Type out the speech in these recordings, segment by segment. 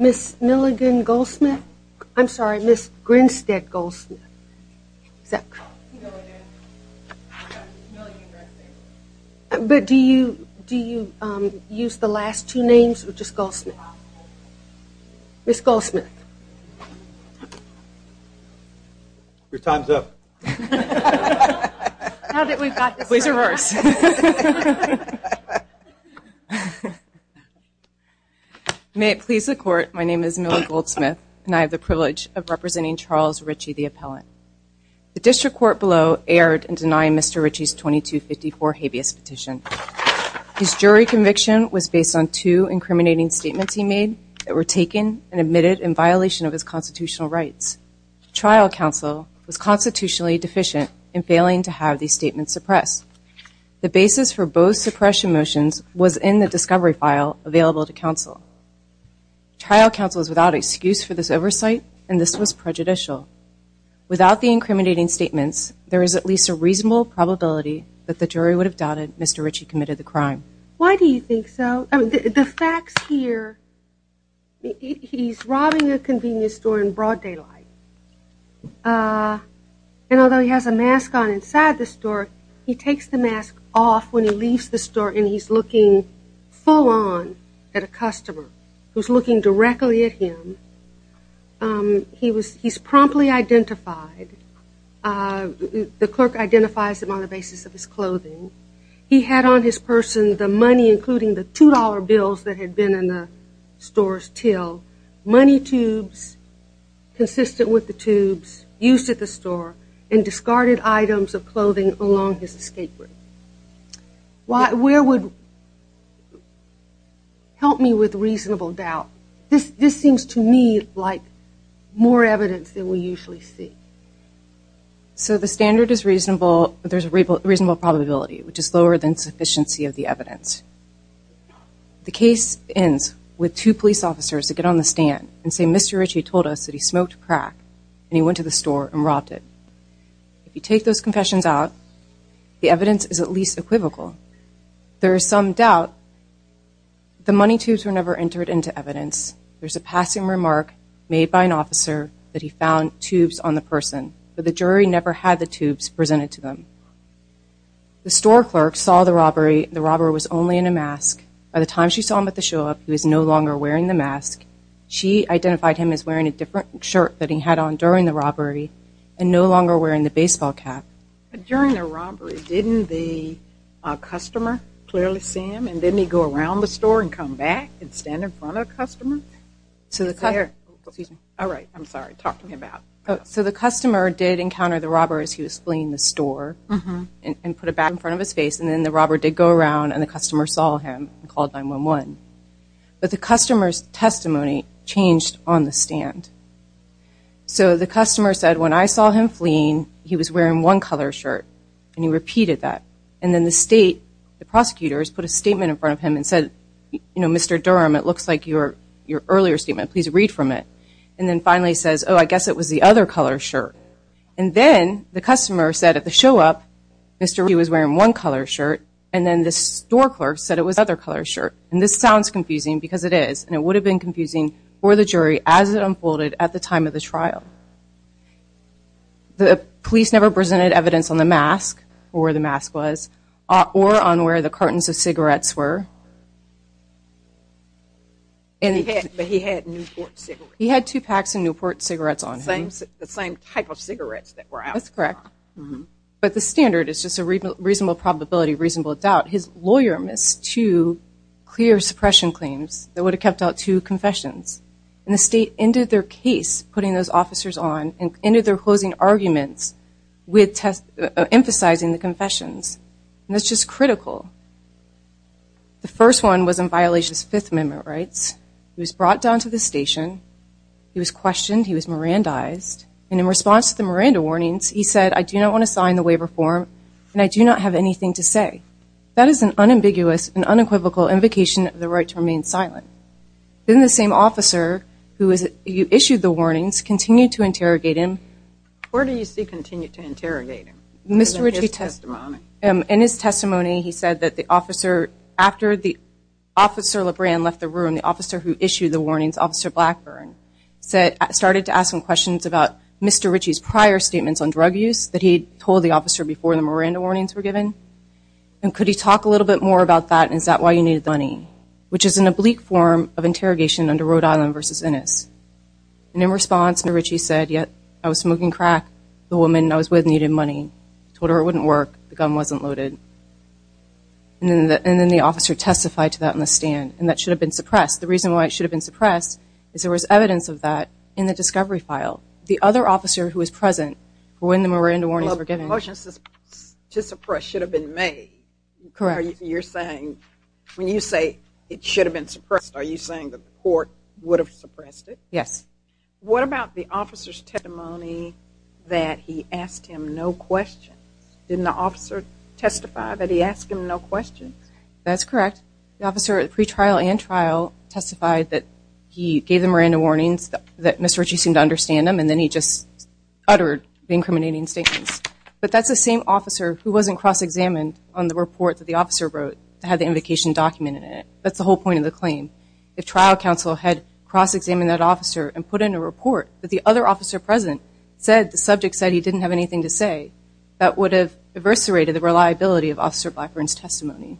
Ms. Milligan Goldsmith. I'm sorry, Ms. Grinstead Goldsmith. But do you do you use the last two names or just Goldsmith? Ms. Goldsmith. Your time's up. May it please the court, my name is Milligan Goldsmith and I have the privilege of representing Charles Ritchie, the appellant. The district court below erred in denying Mr. Ritchie's 2254 habeas petition. His jury conviction was based on two incriminating statements he made that were taken and admitted in violation of his constitutional rights. The trial counsel was constitutionally deficient in failing to have these statements suppressed. The basis for both suppression motions was in the discovery file available to counsel. Trial counsel is without excuse for this oversight and this was prejudicial. Without the incriminating statements, there is at least a reasonable probability that the jury would have doubted Mr. Ritchie committed the crime. Why do you think so? The facts here, he's robbing a convenience store in broad daylight. And although he has a mask on inside the store, he takes the mask off when he leaves the store and he's looking full on at a customer who's looking directly at him. He's promptly identified. The clerk identifies him on the basis of his clothing. He had on his person the money including the $2 bills that had been in the store's till. Money tubes consistent with the tubes used at the store and discarded items of clothing along his escape route. Where would, help me with reasonable doubt. This seems to me like more evidence than we usually see. So the standard is reasonable, there's a reasonable probability which is lower than sufficiency of the evidence. The case ends with two police officers that get on the stand and say Mr. Ritchie told us that he smoked crack and he confessions out, the evidence is at least equivocal. There is some doubt. The money tubes were never entered into evidence. There's a passing remark made by an officer that he found tubes on the person, but the jury never had the tubes presented to them. The store clerk saw the robbery. The robber was only in a mask. By the time she saw him at the show up, he was no longer wearing the mask. She identified him as wearing a different shirt that he had on during the robbery and no longer wearing the baseball cap. During the robbery, didn't the customer clearly see him and didn't he go around the store and come back and stand in front of the customer? All right, I'm sorry, talk to me about it. So the customer did encounter the robber as he was fleeing the store and put a bag in front of his face and then the robber did go around and the customer saw him and called 911. But the customer's testimony changed on the stand. So the customer said, when I saw him fleeing, he was wearing one color shirt and he repeated that. And then the state, the prosecutors put a statement in front of him and said, you know, Mr. Durham, it looks like your earlier statement. Please read from it. And then finally says, oh, I guess it was the other color shirt. And then the customer said at the show up, Mr. he was wearing one color shirt. And then the store clerk said it was other color shirt. And this sounds confusing because it is, and it would have been confusing for the jury as it unfolded at the time of the trial. The police never presented evidence on the mask or the mask was, or on where the cartons of cigarettes were. And he had, but he had Newport cigarettes. He had two packs of Newport cigarettes on him. The same type of cigarettes that were out. That's correct. But the standard is just a reasonable probability, reasonable doubt. His lawyer missed two clear suppression claims that would have kept out two confessions. And the state ended their case putting those officers on end of their closing arguments with test, emphasizing the confessions. And that's just critical. The first one was in violation of his fifth amendment rights. He was brought down to the station. He was questioned. He was Mirandized. And in response to the Miranda warnings, he said, I do not want to sign the waiver form. And I do not have anything to say. That is an unambiguous and unequivocal invocation of the right to remain silent. Then the same officer who is, you issued the warnings continued to interrogate him. Where do you see continued to interrogate him? Mr. Ritchie testimony. In his testimony, he said that the officer after the officer LeBrand left the room, the officer who issued the warnings, officer Blackburn said, started to ask him questions about Mr. Ritchie's prior statements on drug use that he told the officer before the Miranda warnings were given. And could he talk a little bit more about that? And is that why you which is an oblique form of interrogation under Rhode Island versus Ennis. And in response, Mr. Ritchie said, yep, I was smoking crack. The woman I was with needed money. Told her it wouldn't work. The gun wasn't loaded. And then the officer testified to that in the stand. And that should have been suppressed. The reason why it should have been suppressed is there was evidence of that in the discovery file. The other officer who was present when the Miranda warnings were When you say it should have been suppressed, are you saying that the court would have suppressed it? Yes. What about the officer's testimony that he asked him no questions? Didn't the officer testify that he asked him no questions? That's correct. The officer at the pretrial and trial testified that he gave the Miranda warnings that Mr. Ritchie seemed to understand them. And then he just uttered the incriminating statements. But that's the same officer who wasn't cross-examined on the report that the officer wrote that had the invocation documented in it. That's the whole point of the claim. If trial counsel had cross-examined that officer and put in a report that the other officer present said the subject said he didn't have anything to say, that would have eviscerated the reliability of Officer Blackburn's testimony.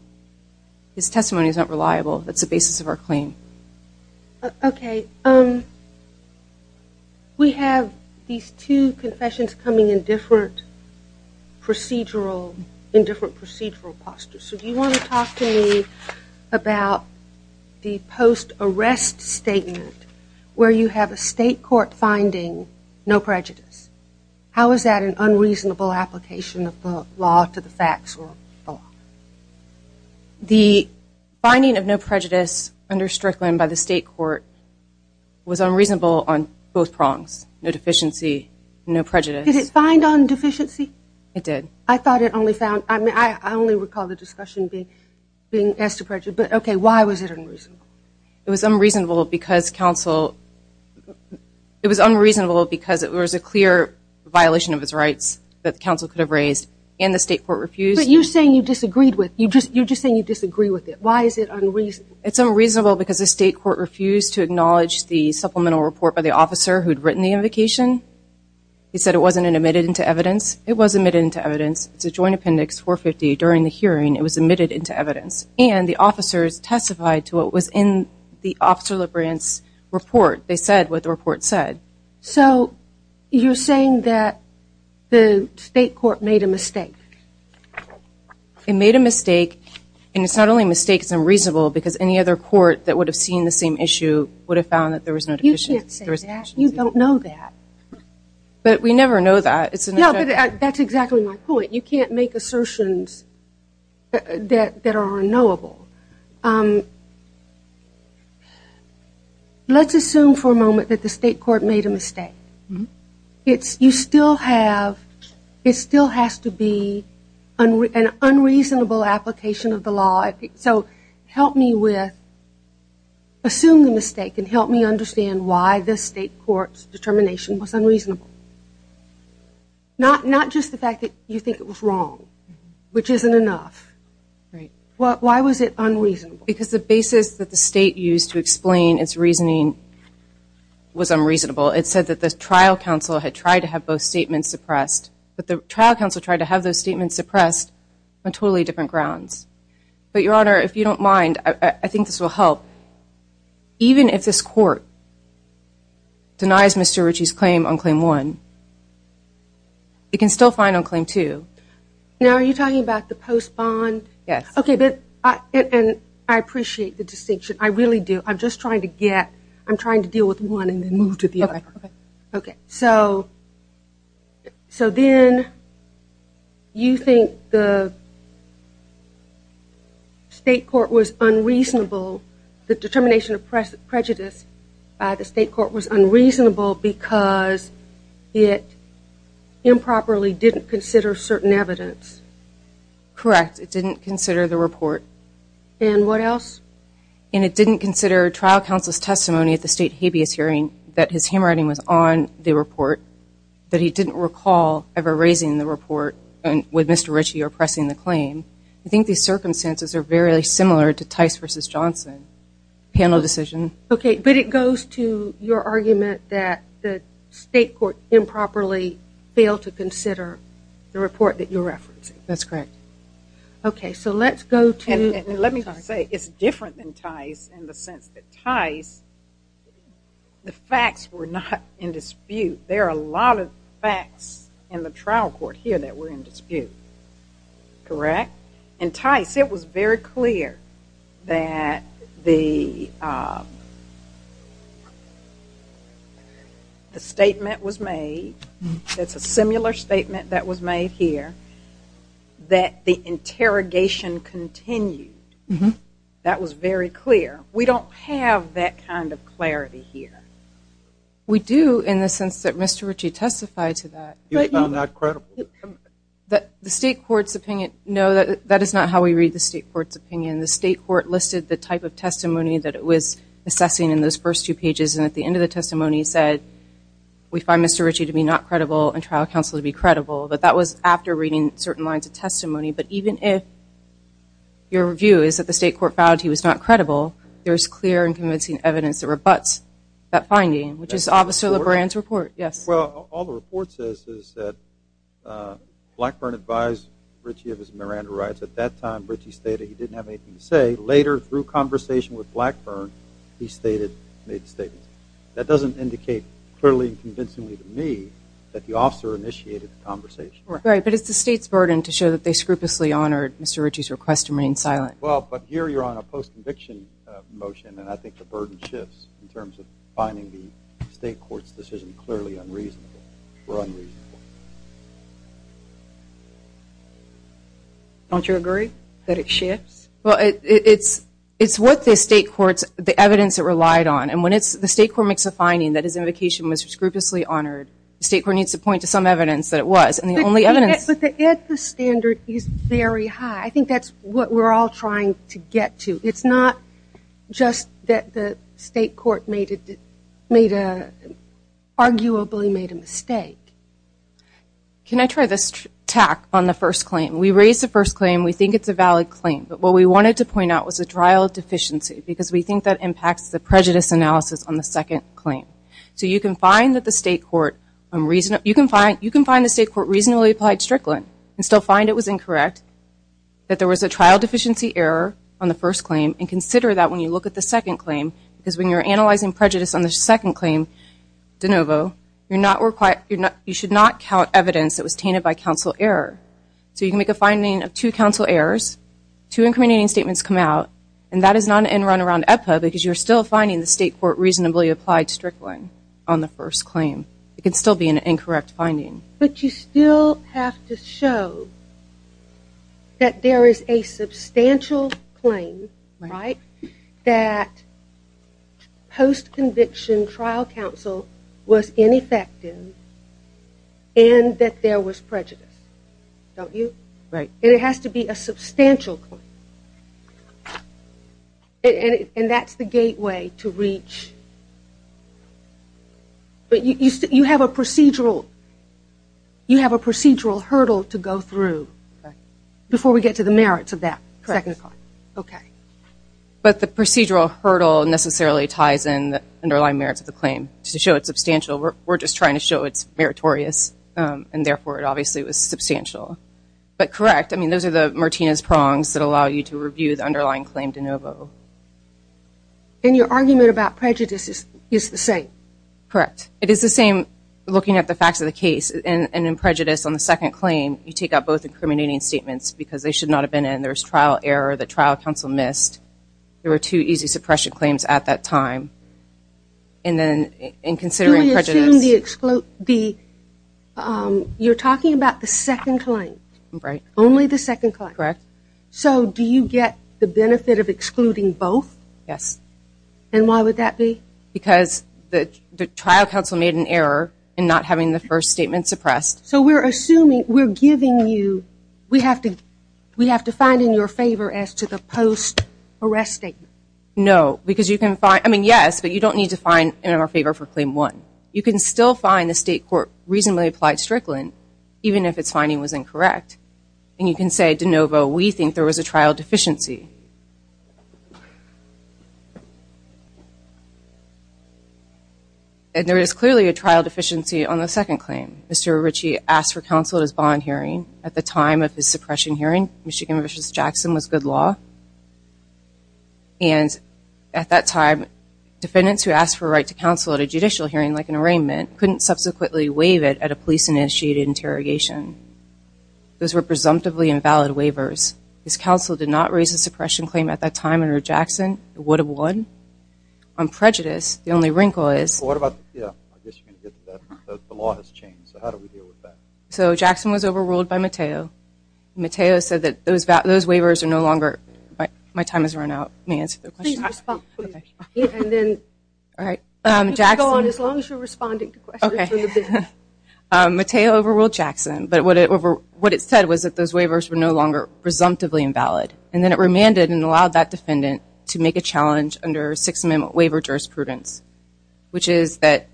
His testimony is not reliable. That's the basis of our claim. Okay. We have these two confessions coming in different procedural, in different procedural postures. So do you want to talk to me about the post-arrest statement where you have a state court finding no prejudice. How is that an unreasonable application of the law to the facts? The finding of no prejudice under Strickland by the state court was unreasonable on both prongs. No deficiency, no prejudice. Did it find on deficiency? It did. I thought it only found, I mean, I only recall the discussion being asked to prejudice, but okay, why was it unreasonable? It was unreasonable because counsel, it was unreasonable because it was a clear violation of his rights that counsel could have raised and the state court refused. But you're saying you disagreed with, you're just saying you disagree with it. Why is it unreasonable? It's unreasonable because the state court refused to acknowledge the supplemental report by the officer who'd written the invocation. He said it wasn't admitted into evidence. It was admitted into evidence. It's a joint appendix 450 during the hearing. It was admitted into evidence and the officers testified to what was in the officer Lebrant's report. They said what the report said. So you're saying that the state court made a mistake? It made a mistake and it's not only a mistake, it's unreasonable because any other court that would have seen the same issue would have found that there was no deficiency. You don't know that. But we never know that. That's exactly my point. You can't make assertions that are unknowable. Let's assume for a moment that the state court made a mistake. You still have, it still has to be an unreasonable application of the law. So help me with, assume the mistake and help me understand why the state court's determination was unreasonable. Not just the fact that you think it was wrong, which isn't enough. Why was it unreasonable? Because the basis that the state used to explain its reasoning was unreasonable. It said that the trial counsel had tried to have both statements suppressed, but the trial counsel tried to have those statements suppressed on totally different grounds. But Your Honor, if you don't mind, I think this will help. Even if this court denies Mr. Ritchie's claim on claim one, it can still find on claim two. Now are you talking about the post bond? Yes. Okay, and I appreciate the distinction. I really do. I'm just trying to get, I'm trying to deal with unreasonable, the determination of prejudice by the state court was unreasonable because it improperly didn't consider certain evidence. Correct. It didn't consider the report. And what else? And it didn't consider trial counsel's testimony at the state habeas hearing that his handwriting was on the report, that he didn't recall ever raising the report with Mr. Ritchie oppressing the claim. I think these circumstances are very similar to Tice v. Johnson panel decision. Okay, but it goes to your argument that the state court improperly failed to consider the report that you're referencing. That's correct. Okay, so let's go to. Let me say it's different than Tice in the sense that Tice, the facts were not in dispute. There are a lot of trial court here that were in dispute. Correct? In Tice it was very clear that the the statement was made, it's a similar statement that was made here, that the interrogation continued. That was very clear. We don't have that kind of clarity here. We do in the sense that Mr. Ritchie testified to that. He was found not credible. The state court's opinion, no, that is not how we read the state court's opinion. The state court listed the type of testimony that it was assessing in those first two pages and at the end of the testimony said we find Mr. Ritchie to be not credible and trial counsel to be credible. But that was after reading certain lines of testimony. But even if your view is that the state court found he was not credible, there's clear and convincing evidence that rebuts that finding, which is Officer Lebrand's report. Yes. Well, all the report says is that Blackburn advised Ritchie of his Miranda rights. At that time, Ritchie stated he didn't have anything to say. Later, through conversation with Blackburn, he stated, made statements. That doesn't indicate clearly and convincingly to me that the officer initiated the conversation. Right, but it's the state's burden to show that they scrupulously honored Mr. Ritchie's request to remain silent. Well, here you're on a post-conviction motion and I think the burden shifts in terms of finding the state court's decision clearly unreasonable or unreasonable. Don't you agree that it shifts? Well, it's what the state court's, the evidence it relied on. And when the state court makes a finding that his invocation was scrupulously honored, the state court needs to point to some evidence that it was. And the only evidence... At the standard is very high. I think that's what we're all trying to get to. It's not just that the state court made a, arguably made a mistake. Can I try this tack on the first claim? We raised the first claim. We think it's a valid claim, but what we wanted to point out was a trial deficiency because we think that impacts the prejudice analysis on the second claim. So you can find that the state court, you can find the state court reasonably applied Strickland and still find it was incorrect, that there was a trial deficiency error on the first claim and consider that when you look at the second claim, because when you're analyzing prejudice on the second claim, de novo, you're not required, you're not, you should not count evidence that was tainted by counsel error. So you can make a finding of two counsel errors, two incriminating statements come out, and that is not an end run around EPA because you're still finding the state court reasonably applied Strickland on the first claim. It can be an incorrect finding. But you still have to show that there is a substantial claim, right, that post conviction trial counsel was ineffective and that there was prejudice, don't you? Right. And it has to be a substantial claim. And that's the gateway to reach, but you have a procedural, you have a procedural hurdle to go through before we get to the merits of that second claim. Correct. Okay. But the procedural hurdle necessarily ties in the underlying merits of the claim to show it's substantial. We're just trying to show it's meritorious and therefore it obviously was substantial. But correct, I mean, those are the Martinez prongs that allow you to review the same. Correct. It is the same looking at the facts of the case. And in prejudice on the second claim, you take out both incriminating statements because they should not have been in. There was trial error that trial counsel missed. There were two easy suppression claims at that time. And then in considering prejudice. You're talking about the second claim. Right. Only the second claim. Correct. So do you get the benefit of excluding both? Yes. And why would that be? Because the trial counsel made an error in not having the first statement suppressed. So we're assuming, we're giving you, we have to find in your favor as to the post-arrest statement. No, because you can find, I mean, yes, but you don't need to find in our favor for claim one. You can still find the state court reasonably applied strickland, even if its finding was incorrect. And you can say, de novo, we think there was a trial deficiency. And there is clearly a trial deficiency on the second claim. Mr. Ritchie asked for counsel at his bond hearing at the time of his suppression hearing. Michigan versus Jackson was good law. And at that time, defendants who asked for a right to counsel at a judicial hearing, like an arraignment, couldn't subsequently waive it at a police initiated interrogation. Those were presumptively invalid waivers. His counsel did not raise a suppression claim at that time under Jackson. It would have won. On prejudice, the only wrinkle is, so Jackson was overruled by Matteo. Matteo said that those waivers are no longer, my time has run out, let me answer the question. Please respond. All right, Jackson, Go on as long as you're responding. Matteo overruled Jackson, but what it said was that those waivers were no longer presumptively invalid. And then it remanded and allowed that defendant to make a challenge under Sixth Amendment waiver jurisprudence, which is that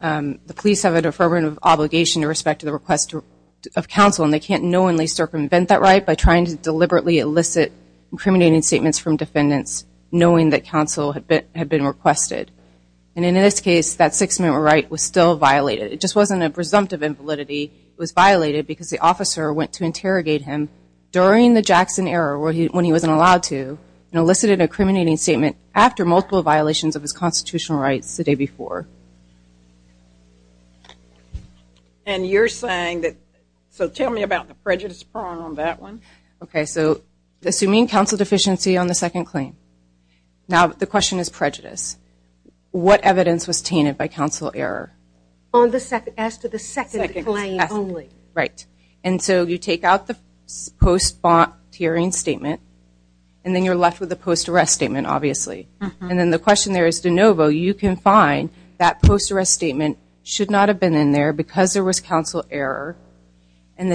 the police have a deferment of obligation in respect to the request of counsel, and they can't knowingly circumvent that right by trying to deliberately elicit incriminating statements from defendants, knowing that counsel had been requested. And in this case, that Sixth Amendment right was still violated. It just wasn't a Jackson error when he wasn't allowed to, and elicited an incriminating statement after multiple violations of his constitutional rights the day before. And you're saying that, so tell me about the prejudice prong on that one. Okay, so assuming counsel deficiency on the second claim. Now, the question is prejudice. What evidence was tainted by counsel error? On the second, as to the second claim only. Right, and so you take out the post bond hearing statement, and then you're left with a post arrest statement, obviously. And then the question there is de novo, you can find that post arrest statement should not have been in there because there was counsel error. And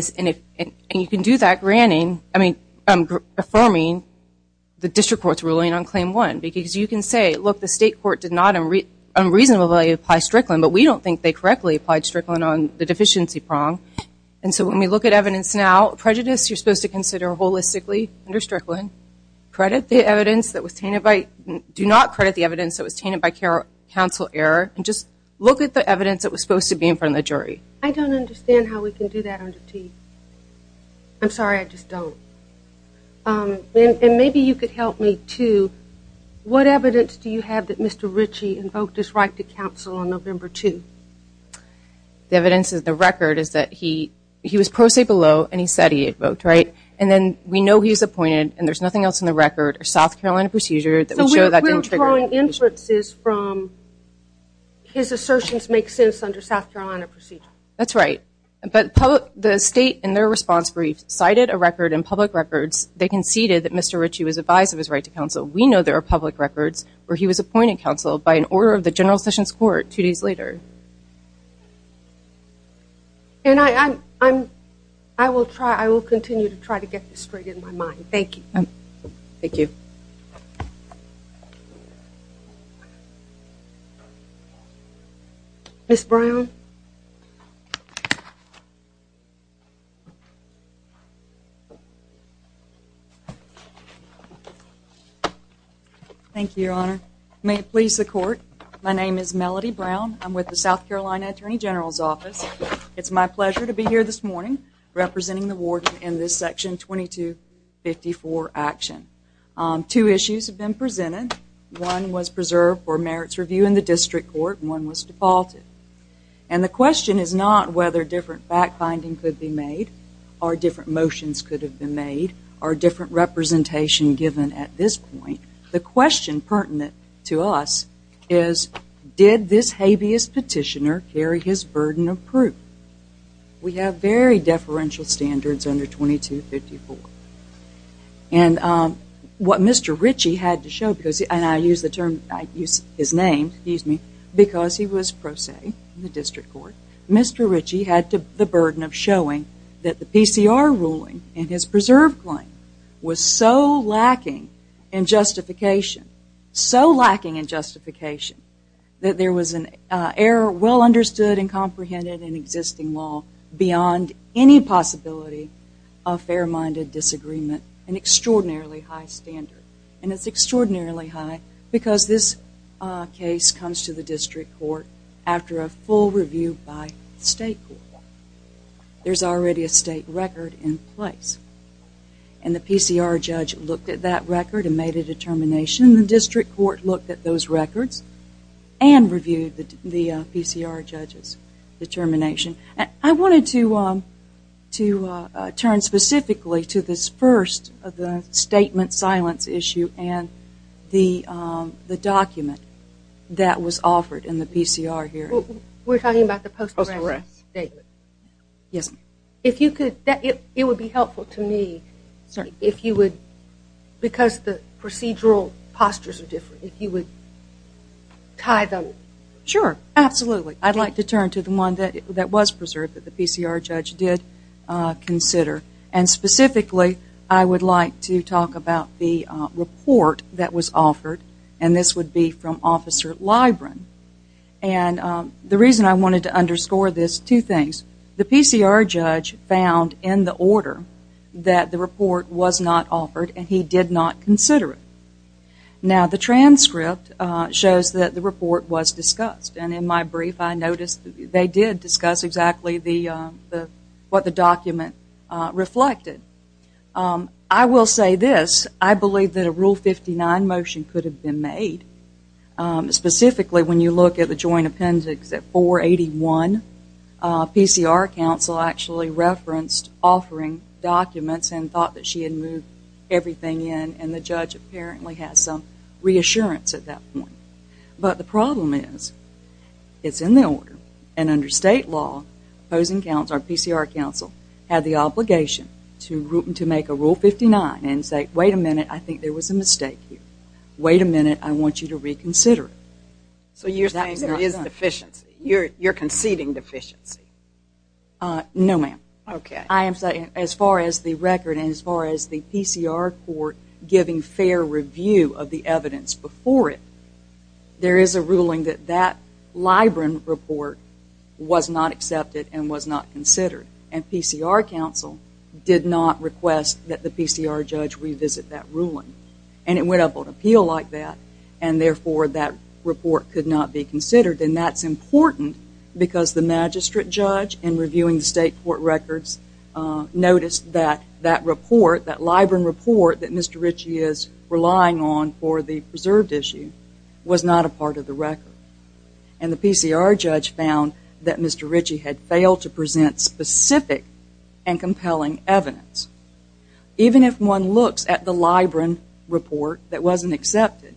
you can do that granting, I mean, affirming the district court's ruling on claim one, because you can say, look, the state court did not unreasonably apply Strickland, but we don't think they correctly applied Strickland on the deficiency prong. And so when we look at evidence now, prejudice, you're supposed to consider holistically under Strickland, credit the evidence that was tainted by, do not credit the evidence that was tainted by counsel error, and just look at the evidence that was supposed to be in front of the jury. I don't understand how we can do that under T. I'm sorry, I just don't. And maybe you could help me, too. What evidence do you have that Mr. The evidence is the record is that he was pro se below and he said he had voked, right? And then we know he's appointed and there's nothing else in the record or South Carolina procedure that would show that. We're drawing inferences from his assertions make sense under South Carolina procedure. That's right. But the state in their response brief cited a record in public records, they conceded that Mr. Ritchie was advised of his right to counsel. We know there are public records where he was appointed counsel by an order of the general sessions court two days later. And I, I'm, I'm, I will try, I will continue to try to get this straight in my mind. Thank you. Thank you. Miss Brown. Thank you, Your Honor. May it please the court. My name is Melody Brown. I'm with the South Carolina Attorney General's Office. It's my pleasure to be here this morning representing the warden in this section 2254 action. Two issues have been presented. One was preserved for merits review in the district court and one was defaulted. And the question is not whether different back binding could be made or different motions could have been made or different given at this point. The question pertinent to us is did this habeas petitioner carry his burden of proof? We have very deferential standards under 2254. And what Mr. Ritchie had to show, because, and I use the term, I use his name, excuse me, because he was pro se in the district court, Mr. Ritchie had the burden of showing that the PCR ruling and his preserved claim was so lacking in justification, so lacking in justification that there was an error well understood and comprehended in existing law beyond any possibility of fair-minded disagreement, an extraordinarily high standard. And it's extraordinarily high because this case comes to the district court after a full review by the state court. There's already a state record in place. And the PCR judge looked at that record and made a determination. The district court looked at those records and reviewed the PCR judge's determination. I wanted to turn specifically to this first of the statement silence issue and the document that was offered in the PCR hearing. We're talking about the post arrest statement. Yes, ma'am. If you could, it would be helpful to me if you would, because the procedural postures are different, if you would tie them. Sure, absolutely. I'd like to turn to the one that was preserved that the PCR judge did consider. And specifically, I would like to talk about the report that was offered. And this would be from Officer Libren. And the reason I wanted to underscore this, two things. The PCR judge found in the order that the report was not offered and he did not consider it. Now the transcript shows that the report was discussed. And in my brief, I noticed they did discuss exactly what the document reflected. I will say this. I believe that a Rule 59 motion could have been made. Specifically, when you look at the joint appendix at 481, PCR counsel actually referenced offering documents and thought that she had moved everything in and the judge apparently had some reassurance at that point. But the problem is, it's in the order. And under state law, opposing counsel, PCR counsel, had the obligation to make a Rule 59 and say, wait a minute, I think there was a mistake here. Wait a minute, I want you to reconsider it. So you're saying there is deficiency? You're conceding deficiency? No, ma'am. Okay. I am saying as far as the record and as far as the PCR court giving fair review of the evidence before it, there is a ruling that that Libren report was not accepted and was not considered. And PCR counsel did not request that the PCR judge revisit that ruling. And it went up on appeal like that and therefore that report could not be considered. And that's important because the magistrate judge in reviewing the state court records noticed that that report, that Libren report that Mr. Ritchie is relying on for the preserved issue, was not a part of the record. And the PCR judge found that Mr. Ritchie had failed to present specific and compelling evidence. Even if one looks at the Libren report that wasn't accepted,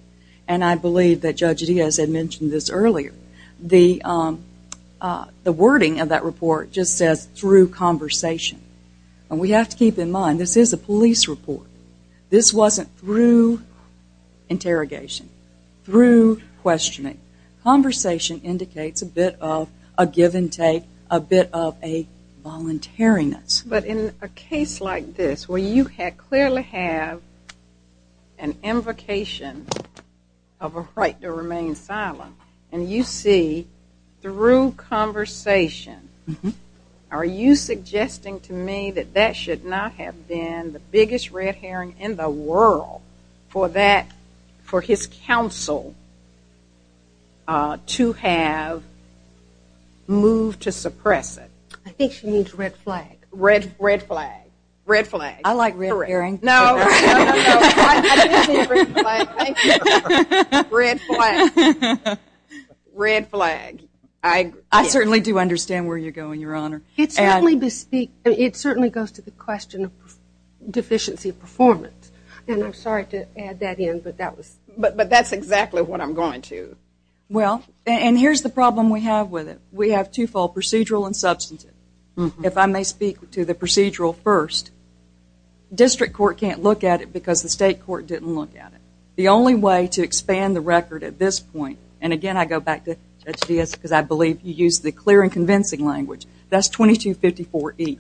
and I believe that Judge Diaz had mentioned this earlier, the wording of that report just says, through conversation. And we have to keep in mind, this is a police report. This wasn't through interrogation. Through questioning. Conversation indicates a bit of a give and take, a bit of a voluntariness. But in a case like this where you clearly have an invocation of a right to remain silent, and you see through conversation, are you suggesting to me that that should not have been the biggest red herring in the world for that, for his counsel to have moved to suppress it? I think she means red flag. Red, red flag. Red flag. I like red herring. No, no, no, I didn't mean red flag. Thank you. Red flag. Red flag. I certainly do understand where you're going, Your Honor. It certainly goes to the question of deficiency performance. And I'm sorry to add that in, but that's exactly what I'm going to. Well, and here's the problem we have with it. We have twofold, procedural and substantive. If I may speak to the procedural first, district court can't look at it because the state court didn't look at it. The only way to expand the record at this point, and again, I go back to Judge Diaz because I believe you used the clear and convincing language. That's 2254E.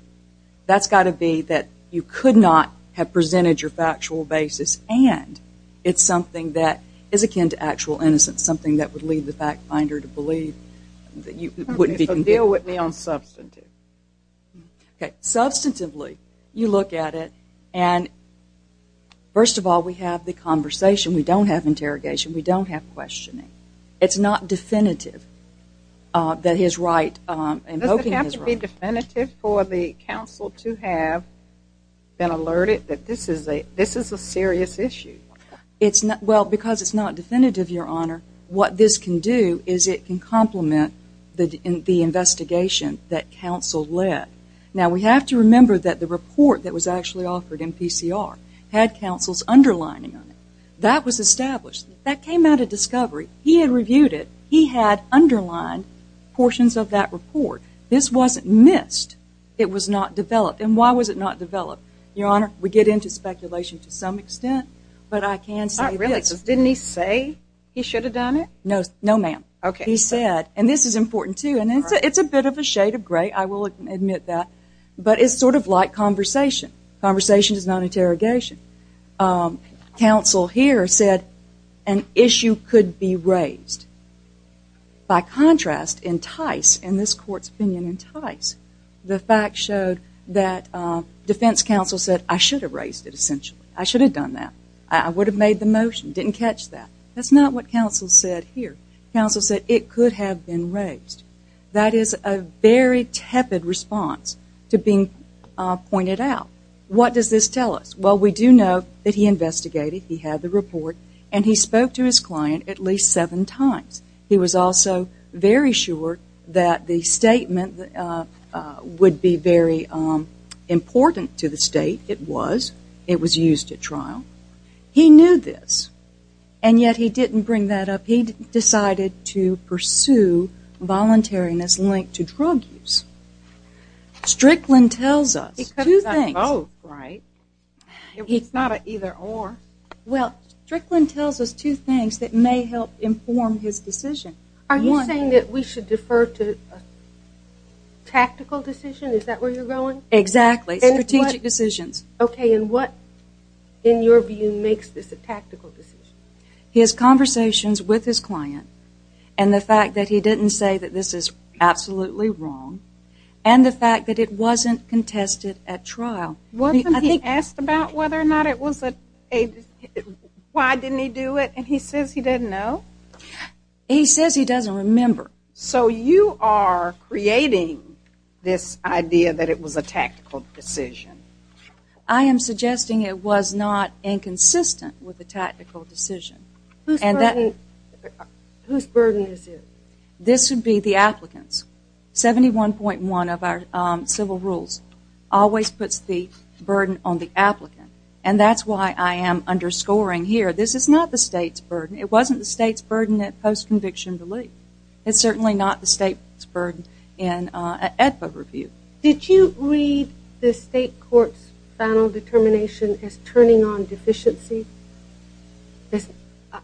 That's got to be that you could not have presented your factual basis and it's something that is akin to actual innocence, something that would lead the fact finder to believe that you wouldn't be convicted. Okay, so deal with me on substantive. Okay, substantively, you look at it and first of all, we have the conversation. We don't have interrogation. We don't have questioning. It's not definitive that his right, invoking his right. Doesn't it have to be definitive for the counsel to have been alerted that this is a serious issue? Well, because it's not definitive, Your Honor, what this can do is it can complement the investigation that counsel led. Now, we have to remember that the report that was actually offered in PCR had counsel's underlining on it. That was established. That came out of discovery. He had reviewed it. He had underlined portions of that report. This wasn't missed. It was not developed. And why was it not developed? Your Honor, we get into speculation to some extent, but I can say this. Oh, really? Didn't he say he should have done it? No, no, ma'am. Okay. He said, and this is important, too, and it's a bit of a shade of gray. I will admit that. But it's sort of like conversation. Conversation is not interrogation. Counsel here said an issue could be raised. By contrast, in Tice, in this court's opinion in Tice, the fact showed that defense counsel said, I should have raised it essentially. I should have done that. I would have made the motion. Didn't catch that. That's not what counsel said here. Counsel said it could have been raised. That is a very tepid response to being pointed out. What does this tell us? Well, we do know that he investigated. He had the report. And he spoke to his client at least seven times. He was also very sure that the statement would be very important to the state. It was. It was used at trial. He knew this. And yet he didn't bring that up. He decided to pursue voluntariness linked to drug use. Strickland tells us two things. Oh, right. It's not an either or. Well, Strickland tells us two things that may help inform his decision. Are you saying that we should defer to a tactical decision? Is that where you're going? Exactly. Strategic decisions. OK. And what, in your view, makes this a tactical decision? His conversations with his client and the fact that he didn't say that this is absolutely wrong and the fact that it wasn't contested at trial. Wasn't he asked about whether or not it was a, why didn't he do it? And he says he didn't know. He says he doesn't remember. So you are creating this idea that it was a tactical decision. I am suggesting it was not inconsistent with a tactical decision. Whose burden is it? This would be the applicant's. 71.1 of our civil rules always puts the burden on the applicant. And that's why I am underscoring here, this is not the state's burden. It wasn't the state's burden at post-conviction relief. It's certainly not the state's burden in an EDPA review. Did you read the state court's final determination as turning on deficiency?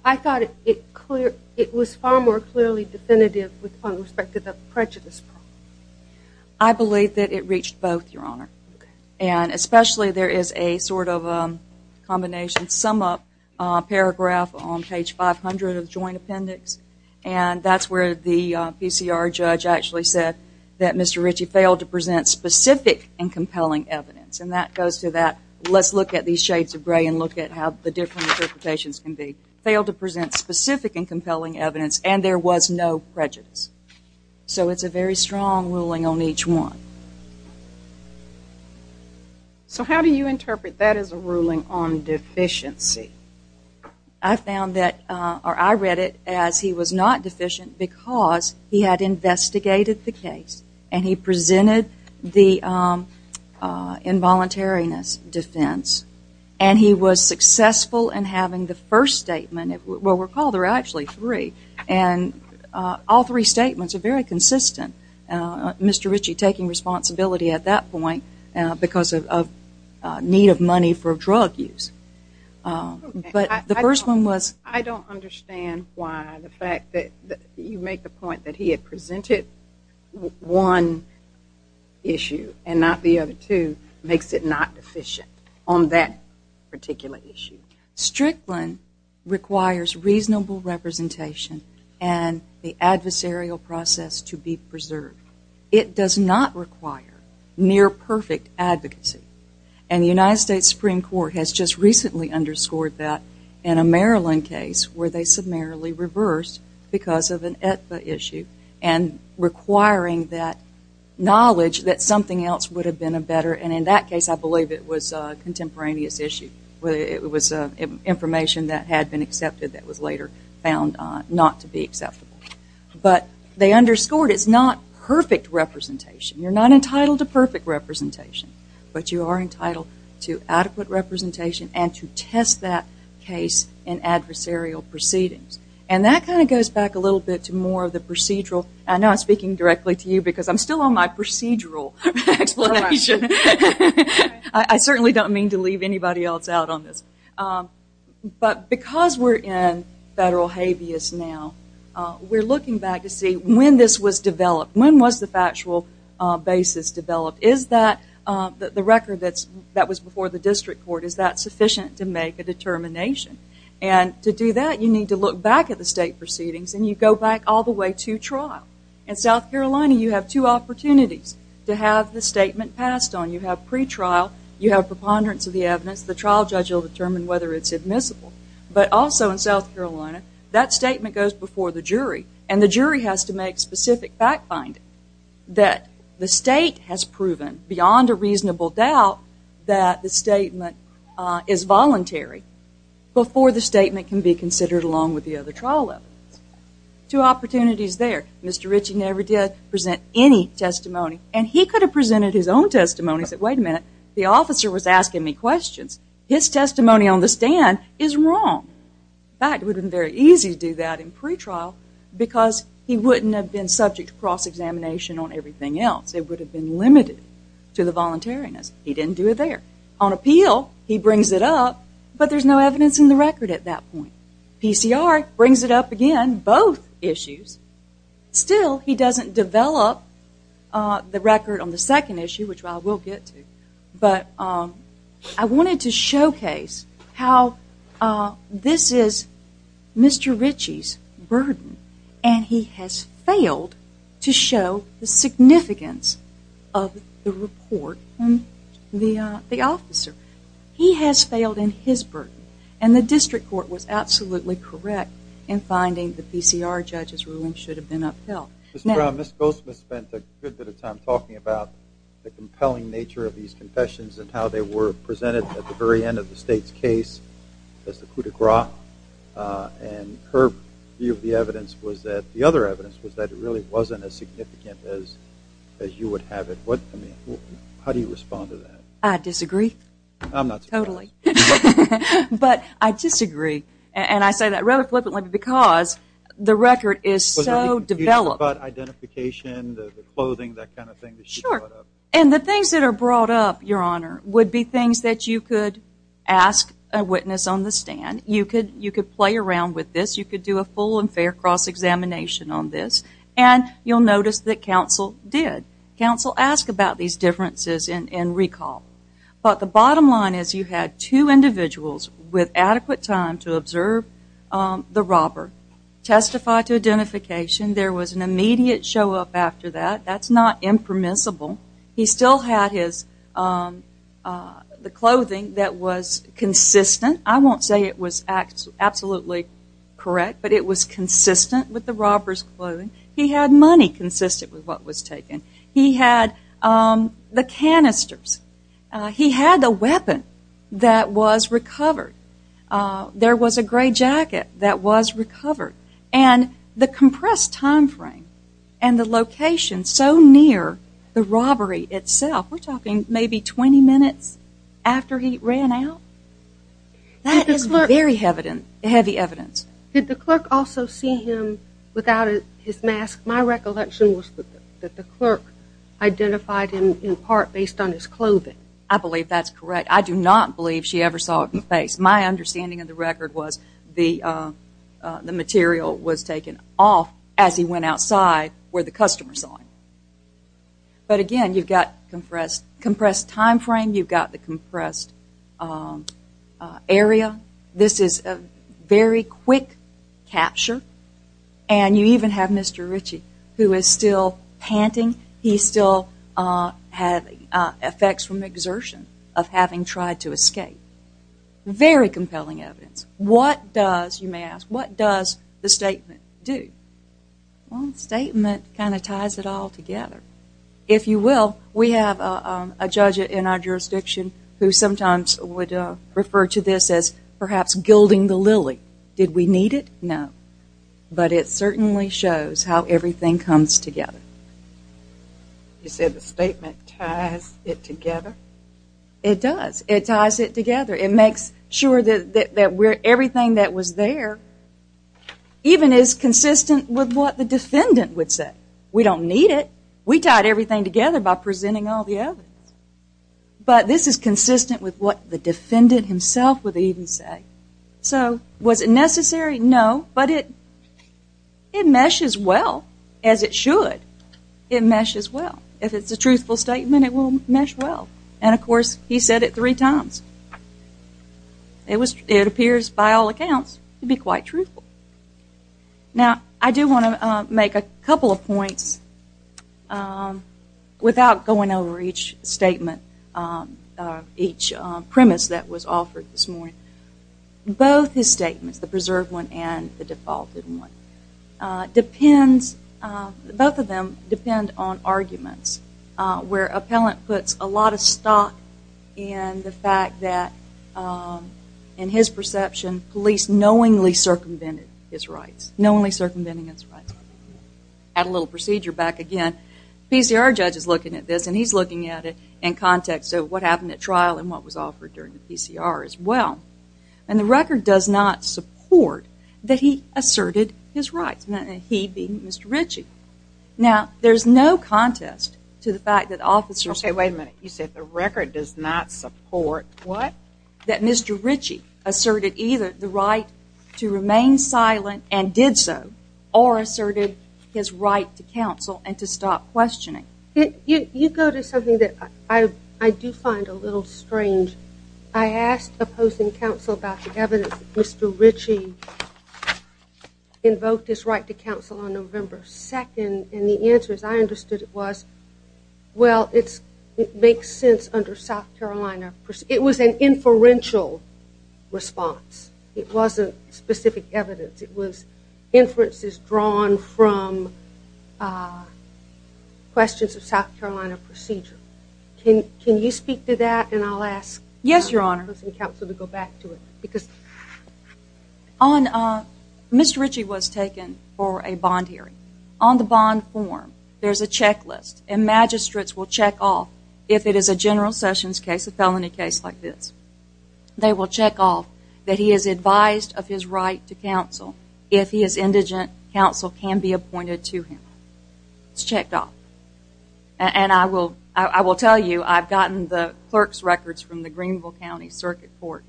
I thought it was far more clearly definitive with respect to the prejudice problem. I believe that it reached both, Your Honor. And especially there is a sort of combination sum up paragraph on page 500 of the joint appendix and that's where the PCR judge actually said that Mr. Ritchie failed to present specific and compelling evidence and that goes to that let's look at these shades of gray and look at how the different interpretations can be. Failed to present specific and compelling evidence and there was no prejudice. So it's a very strong ruling on each one. So how do you interpret that as a ruling on deficiency? I found that or I read it as he was not deficient because he had investigated the case and he was successful in having the first statement, well recall there are actually three and all three statements are very consistent. Mr. Ritchie taking responsibility at that point because of need of money for drug use. But the first one was. I don't understand why the fact that you make the point that he had presented one issue and not the other two makes it not deficient on that particular issue. Strickland requires reasonable representation and the adversarial process to be preserved. It does not require near perfect advocacy and the United States Supreme Court has just recently underscored that in a Maryland case where they summarily reversed because of an knowledge that something else would have been better and in that case I believe it was a contemporaneous issue. It was information that had been accepted that was later found not to be acceptable. But they underscored it's not perfect representation. You are not entitled to perfect representation but you are entitled to adequate representation and to test that case in adversarial proceedings. And that kind of goes back a little bit to more of the procedural. I know I'm speaking directly to you because I'm still on my procedural explanation. I certainly don't mean to leave anybody else out on this. But because we're in federal habeas now, we're looking back to see when this was developed. When was the factual basis developed? Is that the record that was before the district court, is that sufficient to make a determination? And to do that you need to look back at the state proceedings and you go back all the way to trial. In South Carolina you have two opportunities to have the statement passed on. You have pretrial. You have preponderance of the evidence. The trial judge will determine whether it's admissible. But also in South Carolina that statement goes before the jury and the jury has to make specific fact finding that the state has proven beyond a reasonable doubt that the statement is voluntary before the statement can be considered along with the other trial evidence. Two opportunities there. Mr. Ritchie never did present any testimony. And he could have presented his own testimony and said, wait a minute, the officer was asking me questions. His testimony on the stand is wrong. In fact, it would have been very easy to do that in pretrial because he wouldn't have been subject to cross-examination on everything else. It would have been limited to the voluntariness. He didn't do it there. On appeal, he brings it up, but there's no evidence in the record at that point. PCR brings it up again, both issues. Still, he doesn't develop the record on the second issue, which I will get to. But I wanted to showcase how this is Mr. Ritchie's burden and he has failed to show the significance of the report and the officer. He has failed in his burden. And the district court was absolutely correct in finding the PCR judge's ruling should have been upheld. Mr. Brown, Ms. Goldsmith spent a good bit of time talking about the compelling nature of these confessions and how they were presented at the very end of the state's case as the coup de grace. And her view of the evidence was that the other evidence was that it really wasn't as significant as you would have it. How do you respond to that? I disagree. I'm not so sure. Totally. I disagree. And I say that rather flippantly because the record is so developed. And the things that are brought up, Your Honor, would be things that you could ask a witness on the stand. You could play around with this. You could do a full and fair cross-examination on this. And you'll notice that counsel did. Counsel asked about these differences in recall. But the bottom line is you had two individuals with adequate time to observe the robber, testify to identification. There was an immediate show up after that. That's not impermissible. He still had the clothing that was consistent. I won't say it was absolutely correct, but it was consistent with the robber's clothing. He had money consistent with what was taken. He had the canisters. He had a weapon that was recovered. There was a gray jacket that was recovered. And the compressed time frame and the location so near the robbery itself, we're talking maybe 20 minutes after he ran out, that is very heavy evidence. Did the clerk also see him without his mask? My recollection was that the clerk identified him in part based on his clothing. I believe that's correct. I do not believe she ever saw him in the face. My understanding of the record was the material was taken off as he went outside where the customer saw him. But again, you've got compressed time frame. You've got the compressed area. This is a very quick capture. And you even have Mr. Ritchie who is still panting. He still had effects from exertion of having tried to escape. Very compelling evidence. What does, you may ask, what does the statement do? Well, the statement kind of ties it all together. If you will, we have a judge in our jurisdiction who sometimes would refer to this as perhaps gilding the lily. Did we need it? No. But it certainly shows how everything comes together. You said the statement ties it together? It does. It ties it together. It makes sure that everything that was there even is consistent with what the defendant would say. We don't need it. We tied everything together by presenting all the evidence. But this is consistent with what the defendant himself would even say. So was it necessary? No. But it meshes well as it should. It meshes well. If it's a truthful statement, it will mesh well. And of course, he said it three times. It appears by all accounts to be quite truthful. Now, I do want to make a couple of points without going over each statement, each premise that was offered this morning. Both his statements, the preserved one and the defaulted one, both of them depend on arguments where appellant puts a lot of stock in the fact that, in his perception, police knowingly circumvented his rights, knowingly circumventing his rights. Add a little procedure back again. PCR judge is looking at this, and he's looking at it in context of what happened at trial and what was offered during the PCR as well. And the record does not support that he asserted his rights, he being Mr. Ritchie. Now, there's no contest to the fact that officers... Okay, wait a minute. You said the record does not support what? That Mr. Ritchie asserted either the right to remain silent and did so or asserted his right to counsel and to stop questioning. You go to something that I do find a little strange. I asked opposing counsel about the evidence that Mr. Ritchie invoked his right to counsel on November 2nd, and the answer, as I understood it, was, well, it makes sense under South Carolina. It was an inferential response. It wasn't specific evidence. It was inferences drawn from questions of South Carolina procedure. Can you speak to that? And I'll ask opposing counsel to go back to it. Mr. Ritchie was taken for a bond hearing. On the bond form, there's a checklist, and magistrates will check off if it is a general Sessions case, a felony case like this. They will check off that he is advised of his right to counsel if his indigent counsel can be appointed to him. It's checked off. And I will tell you, I've gotten the clerk's records from the Greenville County Circuit Court,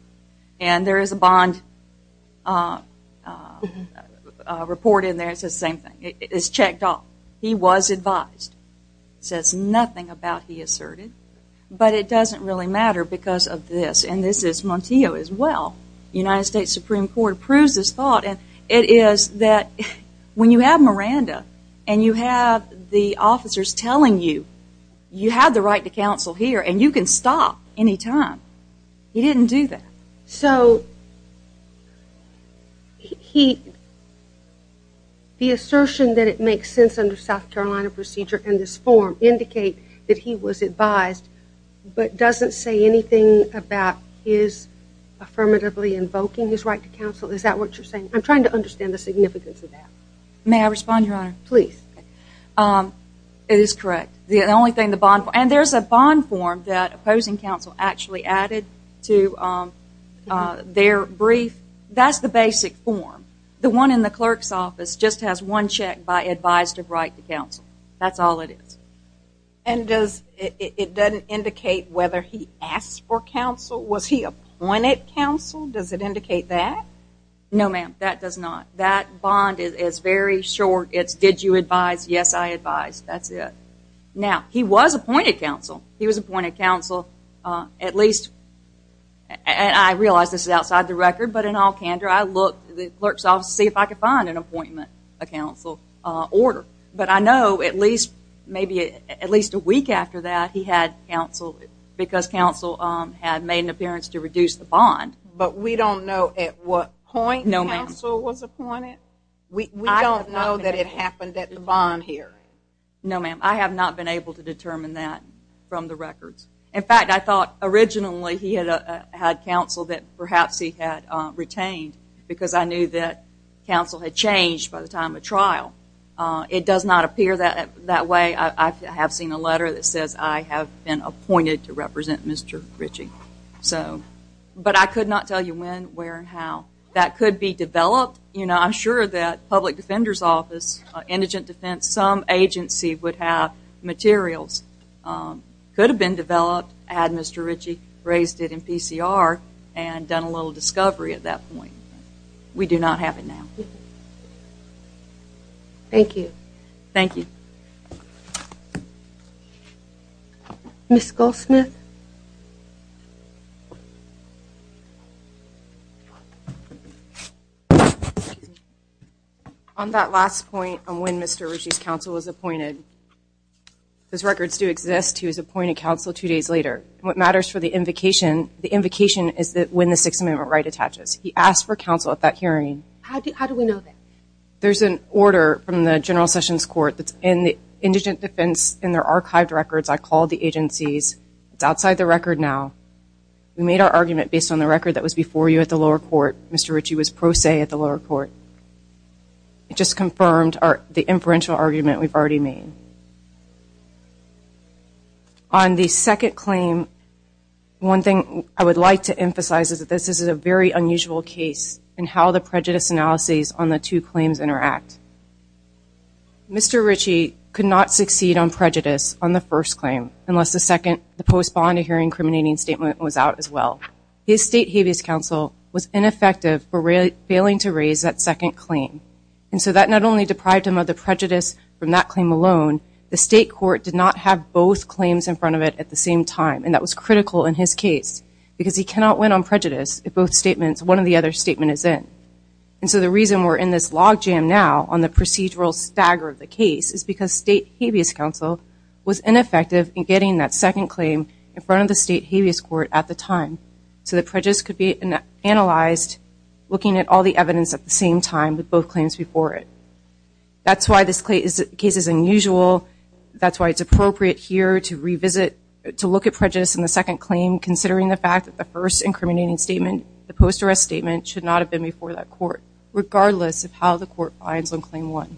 and there is a bond report in there that says the same thing. It is checked off. He was advised. It says nothing about he asserted, but it doesn't really matter because of this, and this is Montillo as well. United States Supreme Court approves this thought, and it is that when you have Miranda and you have the officers telling you, you have the right to counsel here, and you can stop any time. He didn't do that. So the assertion that it makes sense under South Carolina procedure in this form indicate that he was advised, but doesn't say anything about his affirmatively invoking his right to counsel. Is that what you're saying? I'm trying to understand the significance of that. May I respond, Your Honor? Please. It is correct. The only thing, the bond, and there's a bond form that opposing counsel actually added to their brief. That's the basic form. The one in the clerk's office just has one check by advised of right to counsel. That's all it is. And does, it doesn't indicate whether he asked for counsel? Was he appointed counsel? Does it indicate that? No, ma'am. That does not. That bond is very short. It's, did you advise? Yes, I advised. That's it. Now, he was appointed counsel. He was appointed counsel at least, and I realize this is outside the record, but in all candor, I looked at the clerk's office to see if I could find an appointment, a counsel order. But I know at least, maybe at least a week after that, he had counsel because counsel had made an appearance to reduce the bond. But we don't know at what point counsel was appointed. We don't know that it happened at the bond hearing. No, ma'am. I have not been able to determine that from the records. In fact, I thought originally he had counsel that perhaps he had retained because I knew that counsel had changed by the time of trial. It does not appear that way. I have seen a letter that says I have been appointed to represent Mr. Ritchie. But I could not tell you when, where, and how. That could be developed. I'm sure that public defender's office, indigent defense, some agency would have materials, could have been developed had Mr. Ritchie raised it in PCR and done a little discovery at that point. We do not have it now. Thank you. Thank you. Ms. Goldsmith. On that last point on when Mr. Ritchie's counsel was appointed, those records do exist. He was appointed counsel two days later. What matters for the invocation, the invocation is when the Sixth Amendment right attaches. He asked for counsel at that hearing. How do we know that? There's an order from the General Sessions Court that's in the indigent defense in their archived records. I called the agencies. It's outside the record now. We made our argument based on the record that was before you at the lower court. Mr. Ritchie was pro se at the lower court. It just confirmed the inferential argument we've already made. On the second claim, one thing I would like to emphasize is that this is a very unusual case in how the prejudice analyses on the two claims interact. Mr. Ritchie could not succeed on prejudice on the first claim unless the second, the post bond hearing incriminating statement was out as well. His state habeas counsel was ineffective for failing to raise that second claim. And so that not only deprived him of the prejudice from that claim alone, the state court did not have both claims in front of it at the same time. And that was critical in his case because he cannot win on prejudice if both statements, one or the other statement is in. And so the reason we're in this log jam now on the procedural stagger of the case is because state habeas counsel was ineffective in getting that second claim in front of the state habeas court at the time. So the prejudice could be analyzed looking at all the evidence at the same time with both claims before it. That's why this case is unusual. That's why it's appropriate here to revisit, to look at prejudice in the second claim, considering the fact that the first incriminating statement, the post arrest statement should not have been before that court, regardless of how the court finds on claim one.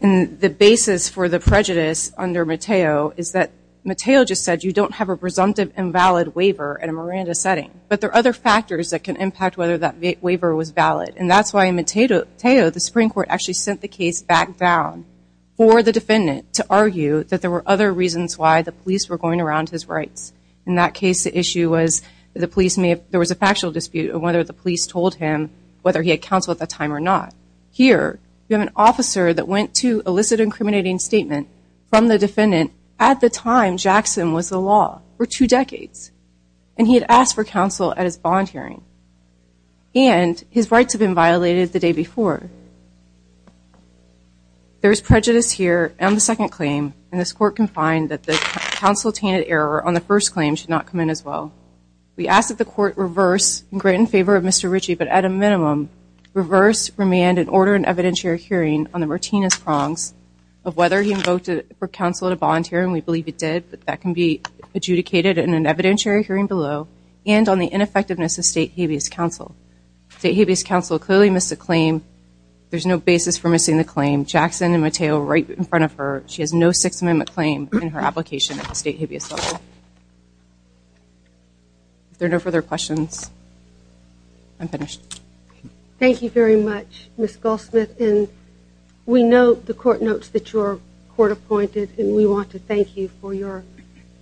And the basis for the prejudice under Mateo is that Mateo just said you don't have a presumptive invalid waiver in a Miranda setting. But there are other factors that can impact whether that waiver was valid. And that's why in Mateo, the Supreme Court actually sent the case back down for the defendant to argue that there were other reasons why the police were going around his rights. In that case, the issue was the police may have, there was a factual dispute of whether the police told him whether he had counsel at the time or not. Here, we have an officer that went to elicit an incriminating statement from the defendant at the time Jackson was the law, for two decades. And he had asked for counsel at his bond hearing. And his rights had been violated the day before. There is prejudice here on the second claim. And this court can find that the counsel-attended error on the first claim should not come in as well. We ask that the court reverse and grant in favor of Mr. Ritchie, but at a minimum, reverse, remand, and order an evidentiary hearing on the Martinez prongs of whether he invoked it for counsel at a bond hearing. We believe it did, but that can be adjudicated in an evidentiary hearing below and on the ineffectiveness of state habeas counsel. State habeas counsel clearly missed the claim. There's no basis for missing the claim. Jackson and Mateo right in front of her. She has no Sixth Amendment claim in her application at the state habeas level. If there are no further questions, I'm finished. Thank you very much, Ms. Goldsmith. And we know the court notes that you're court appointed. And we want to thank you for your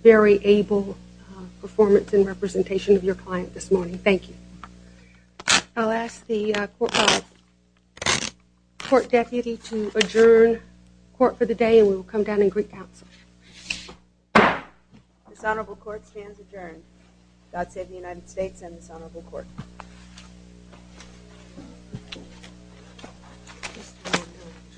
very able performance in representation of your client this morning. Thank you. I'll ask the court deputy to adjourn court for the day. And we will come down and greet counsel. This honorable court stands adjourned. God save the United States and this honorable court.